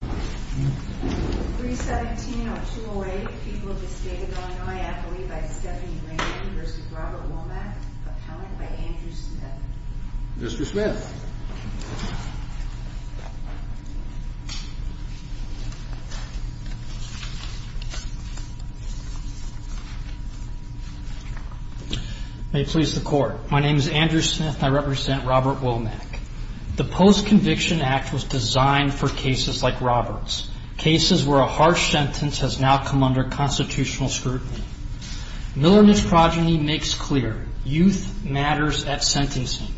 317-208 People of the State of Illinois Act Relief by Stephanie Raymond v. Robert Womack Appellant by Andrew Smith Mr. Smith May it please the Court. My name is Andrew Smith and I represent Robert Womack. The Post-Conviction Act was designed for cases like Robert's, cases where a harsh sentence has now come under constitutional scrutiny. Miller and his progeny makes clear, youth matters at sentencing.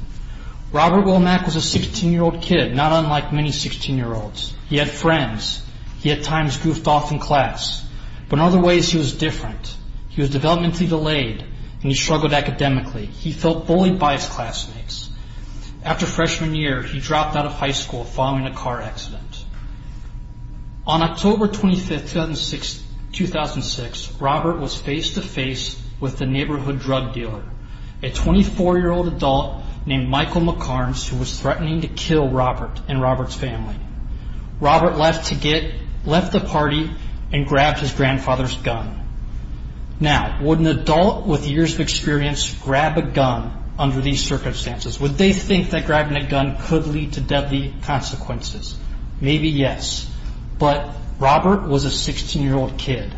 Robert Womack was a 16-year-old kid, not unlike many 16-year-olds. He had friends. He at times goofed off in class, but in other ways he was different. He was developmentally delayed and he struggled academically. He felt bullied by his classmates. After freshman year, he dropped out of high school following a car accident. On October 25, 2006, Robert was face-to-face with the neighborhood drug dealer, a 24-year-old adult named Michael McCarms, who was threatening to kill Robert and Robert's family. Robert left the party and grabbed his grandfather's gun. Now, would an adult with years of experience grab a gun under these circumstances? Would they think that grabbing a gun could lead to deadly consequences? Maybe yes, but Robert was a 16-year-old kid.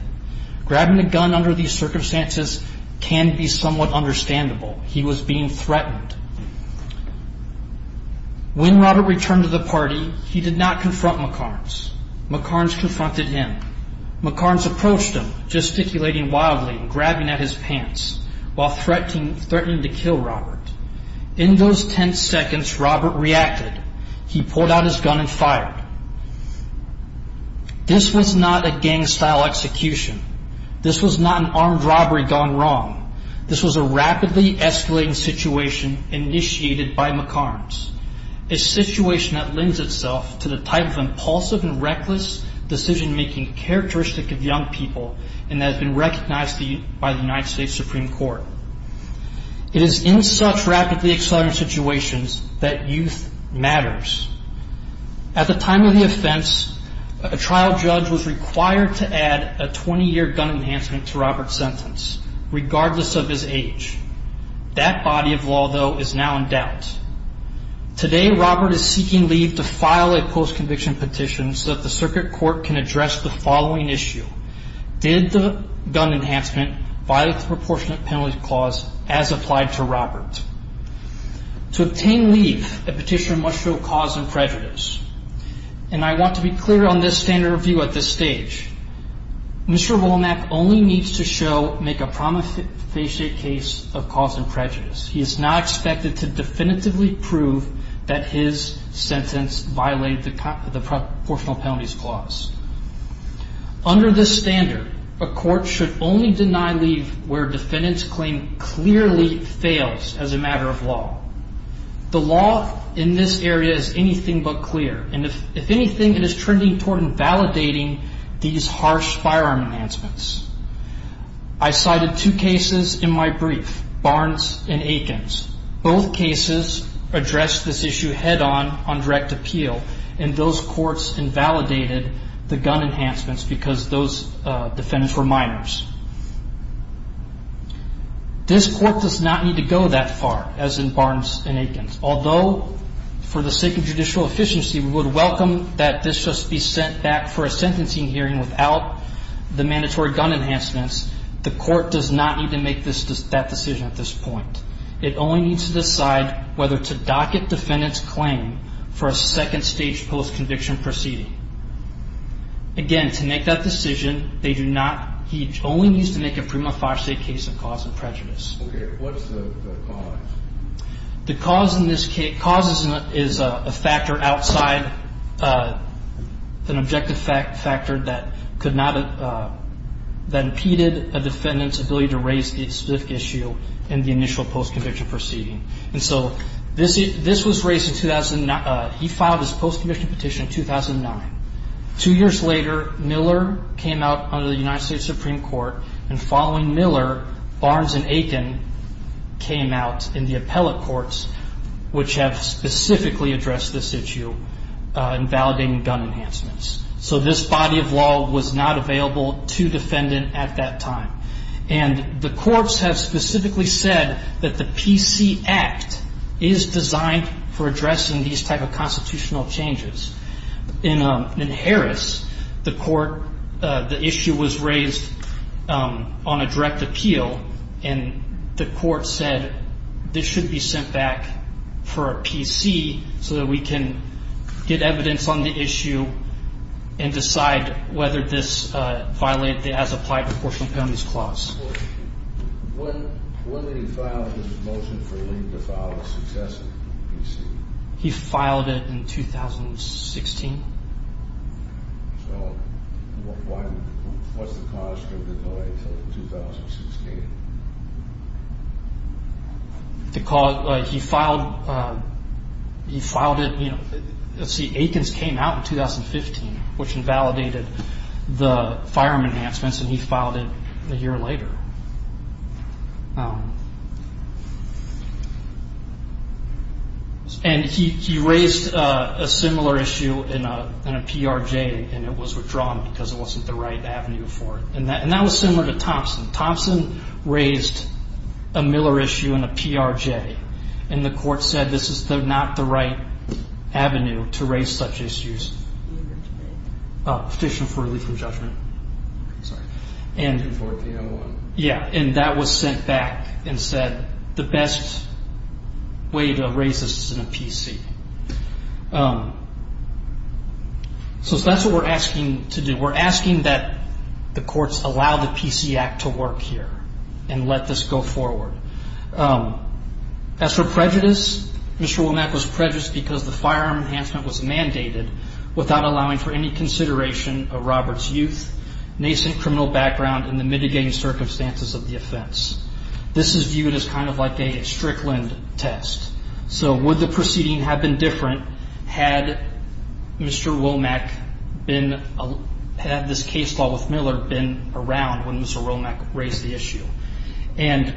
Grabbing a gun under these circumstances can be somewhat understandable. He was being threatened. When Robert returned to the party, he did not confront McCarms. McCarms confronted him. McCarms approached him, gesticulating wildly and grabbing at his pants while threatening to kill Robert. In those ten seconds, Robert reacted. He pulled out his gun and fired. This was not a gang-style execution. This was not an armed robbery gone wrong. This was a rapidly escalating situation initiated by McCarms, a situation that lends itself to the type of impulsive and reckless decision-making characteristic of young people and has been recognized by the United States Supreme Court. It is in such rapidly accelerating situations that youth matters. At the time of the offense, a trial judge was required to add a 20-year gun enhancement to Robert's sentence, regardless of his age. That body of law, though, is now in doubt. Today, Robert is seeking leave to file a post-conviction petition so that the circuit court can address the following issue. Did the gun enhancement violate the Proportionate Penalty Clause as applied to Robert? To obtain leave, a petitioner must show cause and prejudice. And I want to be clear on this standard of view at this stage. Mr. Womack only needs to show, make a promissory case of cause and prejudice. He is not expected to definitively prove that his sentence violated the Proportional Penalty Clause. Under this standard, a court should only deny leave where a defendant's claim clearly fails as a matter of law. The law in this area is anything but clear. And if anything, it is trending toward invalidating these harsh firearm enhancements. I cited two cases in my brief, Barnes and Akins. Both cases addressed this issue head-on on direct appeal, and those courts invalidated the gun enhancements because those defendants were minors. This court does not need to go that far, as in Barnes and Akins, Although, for the sake of judicial efficiency, we would welcome that this just be sent back for a sentencing hearing without the mandatory gun enhancements, the court does not need to make that decision at this point. It only needs to decide whether to docket defendant's claim for a second stage post-conviction proceeding. Again, to make that decision, they do not, he only needs to make a prima facie case of cause and prejudice. Okay, what's the cause? The cause in this case, cause is a factor outside, an objective factor that could not, that impeded a defendant's ability to raise the specific issue in the initial post-conviction proceeding. And so, this was raised in 2009, he filed his post-conviction petition in 2009. Two years later, Miller came out under the United States Supreme Court, and following Miller, Barnes and Akin came out in the appellate courts, which have specifically addressed this issue in validating gun enhancements. So, this body of law was not available to defendant at that time. And the courts have specifically said that the PC Act is designed for addressing these type of constitutional changes. In Harris, the court, the issue was raised on a direct appeal, and the court said this should be sent back for a PC so that we can get evidence on the issue and decide whether this violated the as-applied proportional penalties clause. When did he file his motion for leave to file a successive PC? He filed it in 2016. So, what was the cause for the delay until 2016? He filed it, you know, let's see, Akin's came out in 2015, which invalidated the firearm enhancements, and he filed it a year later. And he raised a similar issue in a PRJ, and it was withdrawn because it wasn't the right avenue for it. And that was similar to Thompson. Thompson raised a Miller issue in a PRJ, and the court said this is not the right avenue to raise such issues. Oh, Petition for Relief from Judgment. I'm sorry. In 1401. Yeah, and that was sent back and said the best way to raise this is in a PC. So that's what we're asking to do. We're asking that the courts allow the PC Act to work here and let this go forward. As for prejudice, Mr. Womack was prejudiced because the firearm enhancement was mandated without allowing for any consideration of Robert's youth, nascent criminal background, and the mitigating circumstances of the offense. This is viewed as kind of like a Strickland test. So would the proceeding have been different had Mr. Womack been, had this case law with Miller been around when Mr. Womack raised the issue? And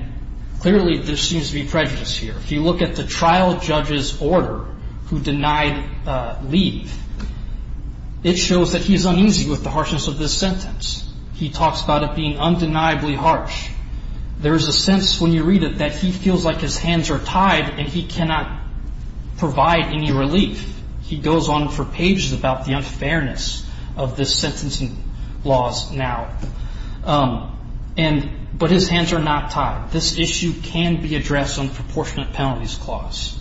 clearly there seems to be prejudice here. If you look at the trial judge's order who denied leave, it shows that he's uneasy with the harshness of this sentence. He talks about it being undeniably harsh. There is a sense when you read it that he feels like his hands are tied and he cannot provide any relief. He goes on for pages about the unfairness of the sentencing laws now. But his hands are not tied. This issue can be addressed on proportionate penalties clause.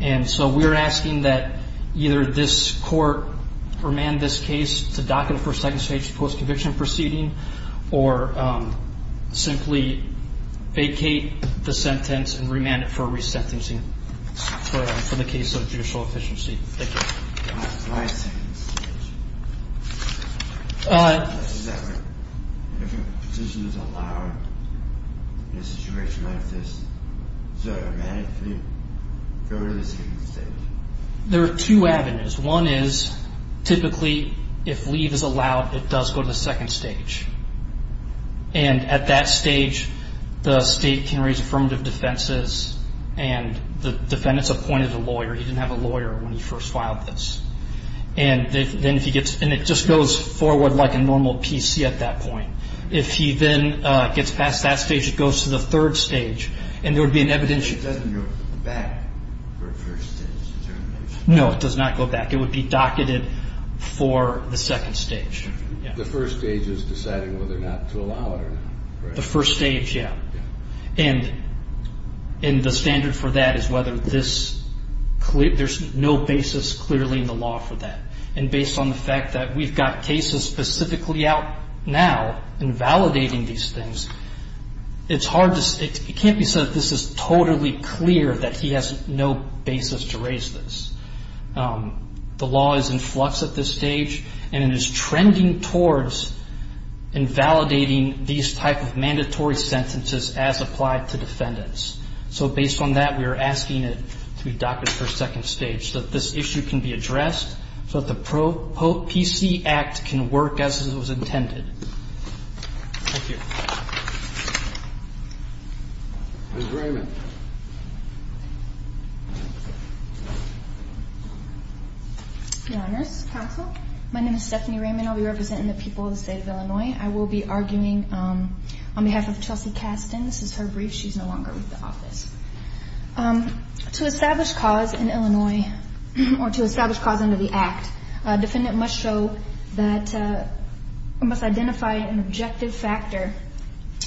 And so we're asking that either this court remand this case to dock it for second stage post-conviction proceeding or simply vacate the sentence and remand it for resentencing for the case of judicial efficiency. Thank you. Why second stage? Is that what, if a position is allowed in a situation like this, does it automatically go to the second stage? There are two avenues. One is typically if leave is allowed, it does go to the second stage. And at that stage, the state can raise affirmative defenses and the defendants appointed a lawyer. He didn't have a lawyer when he first filed this. And then if he gets, and it just goes forward like a normal PC at that point. If he then gets past that stage, it goes to the third stage. And there would be an evidential. It doesn't go back for first stage determination? No, it does not go back. It would be docketed for the second stage. The first stage is deciding whether or not to allow it or not, correct? The first stage, yeah. And the standard for that is whether this, there's no basis clearly in the law for that. And based on the fact that we've got cases specifically out now invalidating these things, it's hard to, it can't be said that this is totally clear that he has no basis to raise this. The law is in flux at this stage, and it is trending towards invalidating these type of mandatory sentences as applied to defendants. So based on that, we are asking it to be docketed for second stage, so that this issue can be addressed, so that the Pro-PC Act can work as it was intended. Thank you. Ms. Raymond. Your Honors. Counsel. My name is Stephanie Raymond. I'll be representing the people of the state of Illinois. I will be arguing on behalf of Chelsea Caston. This is her brief. She's no longer with the office. To establish cause in Illinois, or to establish cause under the Act, a defendant must show that, must identify an objective factor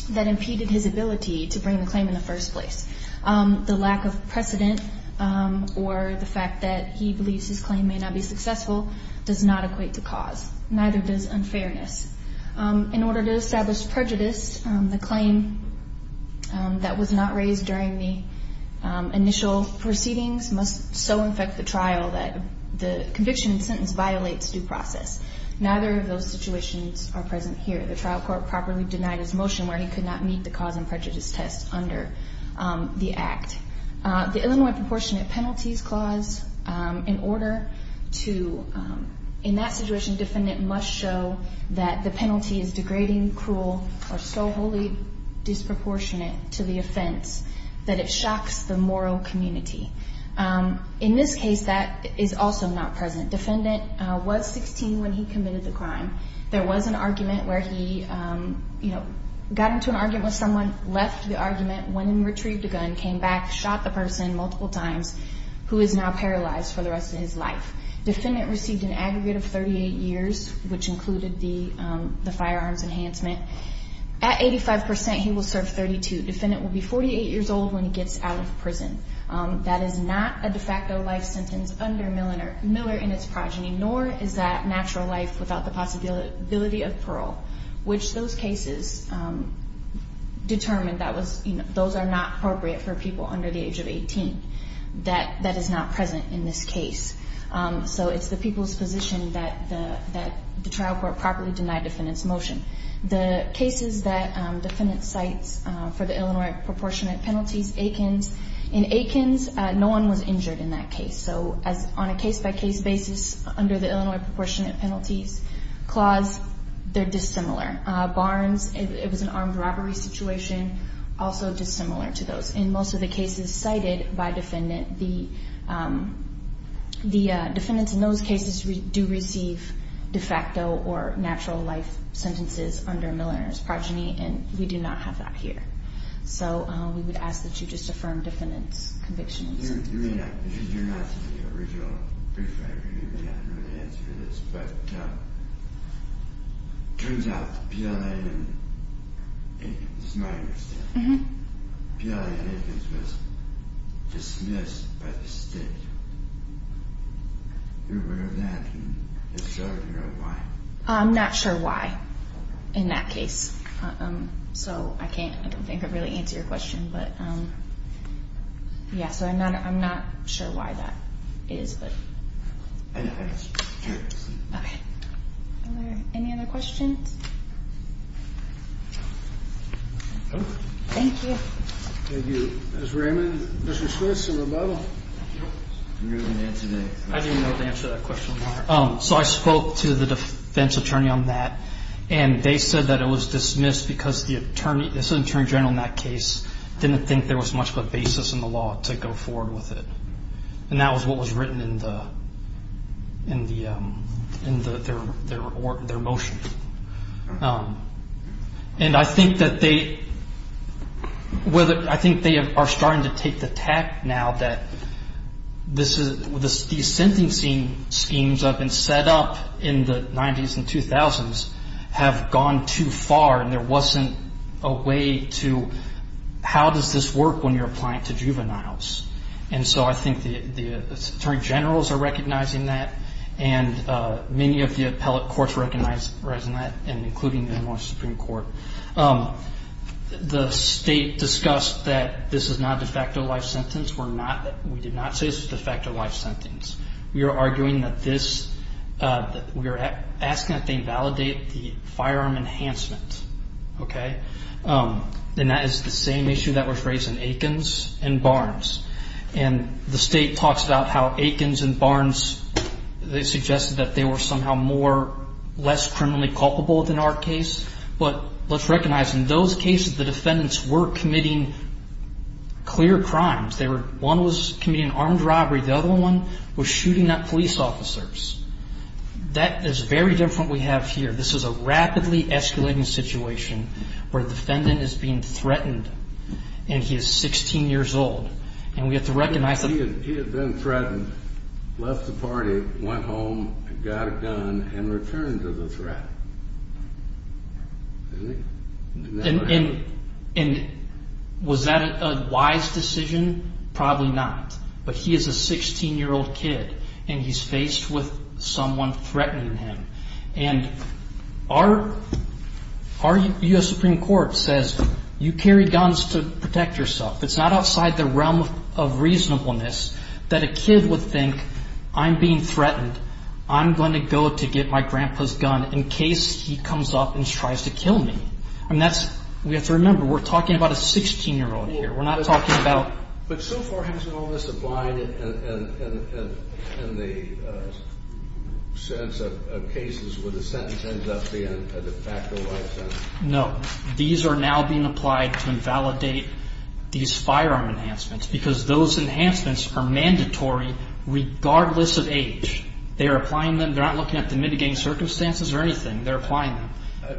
that impeded his ability to bring the claim in the first place. The lack of precedent, or the fact that he believes his claim may not be successful, does not equate to cause. Neither does unfairness. In order to establish prejudice, the claim that was not raised during the initial proceedings must so infect the trial that the conviction and sentence violates due process. Neither of those situations are present here. The trial court properly denied his motion where he could not meet the cause and prejudice test under the Act. The Illinois Proportionate Penalties Clause, in order to, in that situation, defendant must show that the penalty is degrading, cruel, or so wholly disproportionate to the offense that it shocks the moral community. In this case, that is also not present. Defendant was 16 when he committed the crime. There was an argument where he got into an argument with someone, left the argument, went and retrieved a gun, came back, shot the person multiple times, who is now paralyzed for the rest of his life. Defendant received an aggregate of 38 years, which included the firearms enhancement. At 85%, he will serve 32. Defendant will be 48 years old when he gets out of prison. That is not a de facto life sentence under Miller in its progeny, nor is that natural life without the possibility of parole, which those cases determined that those are not appropriate for people under the age of 18. That is not present in this case. So it's the people's position that the trial court properly denied defendant's motion. The cases that defendant cites for the Illinois proportionate penalties, Aikens. In Aikens, no one was injured in that case. So on a case-by-case basis under the Illinois proportionate penalties clause, they're dissimilar. Barnes, it was an armed robbery situation, also dissimilar to those. In most of the cases cited by defendant, the defendants in those cases do receive de facto or natural life sentences under Miller in his progeny, and we do not have that here. So we would ask that you just affirm defendant's conviction. I'm not sure why in that case. So I can't really answer your question. But, yeah, so I'm not sure why that is. Any other questions? Thank you. So I spoke to the defense attorney on that, and they said that it was dismissed because this attorney general in that case, didn't think there was much of a basis in the law to go forward with it. And that was what was written in their motion. And I think that they are starting to take the tack now that these sentencing schemes that have been set up in the 90s and 2000s have gone too far, and there wasn't a way to how does this work when you're applying it to juveniles. And so I think the attorney generals are recognizing that, and many of the appellate courts recognize that, including the New York Supreme Court. The state discussed that this is not a de facto life sentence. We did not say this is a de facto life sentence. We are arguing that this, we are asking that they validate the firearm enhancement. And that is the same issue that was raised in Aikens and Barnes. And the state talks about how Aikens and Barnes, they suggested that they were somehow less criminally culpable than our case. But let's recognize in those cases the defendants were committing clear crimes. One was committing armed robbery. The other one was shooting at police officers. That is very different we have here. This is a rapidly escalating situation where a defendant is being threatened, and he is 16 years old. And we have to recognize that. He had been threatened, left the party, went home, got a gun, and returned to the threat. And was that a wise decision? Probably not. But he is a 16-year-old kid, and he's faced with someone threatening him. And our U.S. Supreme Court says you carry guns to protect yourself. It's not outside the realm of reasonableness that a kid would think, I'm being threatened. I'm going to go to get my grandpa's gun in case he comes up and tries to kill me. We have to remember we're talking about a 16-year-old here. We're not talking about. But so far, hasn't all this applied in the sense of cases where the sentence ends up being a de facto life sentence? No. These are now being applied to invalidate these firearm enhancements because those enhancements are mandatory regardless of age. They are applying them. They're not looking at the mitigating circumstances or anything. They're applying them.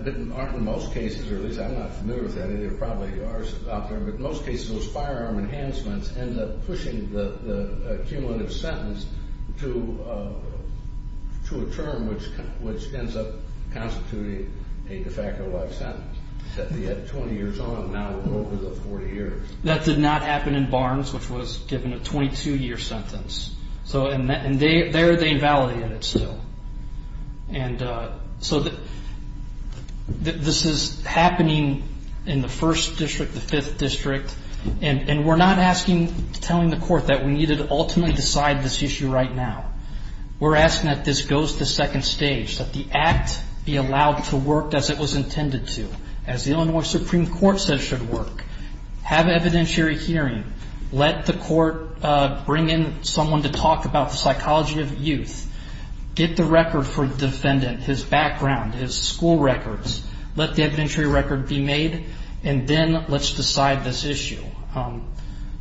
But aren't in most cases, or at least I'm not familiar with that, and there probably are some out there, but in most cases those firearm enhancements end up pushing the cumulative sentence to a term which ends up constituting a de facto life sentence. He had 20 years on, now over the 40 years. That did not happen in Barnes, which was given a 22-year sentence. And there they invalidated it still. And so this is happening in the 1st District, the 5th District, and we're not asking, telling the court that we need to ultimately decide this issue right now. We're asking that this goes to second stage, that the act be allowed to work as it was intended to, as the Illinois Supreme Court said should work, have evidentiary hearing, let the court bring in someone to talk about the psychology of youth, get the record for the defendant, his background, his school records, let the evidentiary record be made, and then let's decide this issue.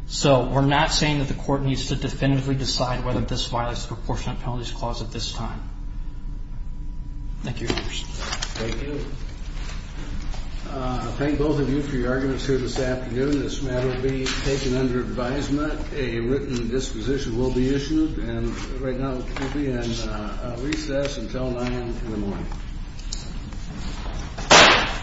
So we're not saying that the court needs to definitively decide whether this violates the Proportionate Penalties Clause at this time. Thank you, Your Honors. Thank you. I thank both of you for your arguments here this afternoon. This matter will be taken under advisement. A written disposition will be issued, and right now we'll be in recess until 9 in the morning.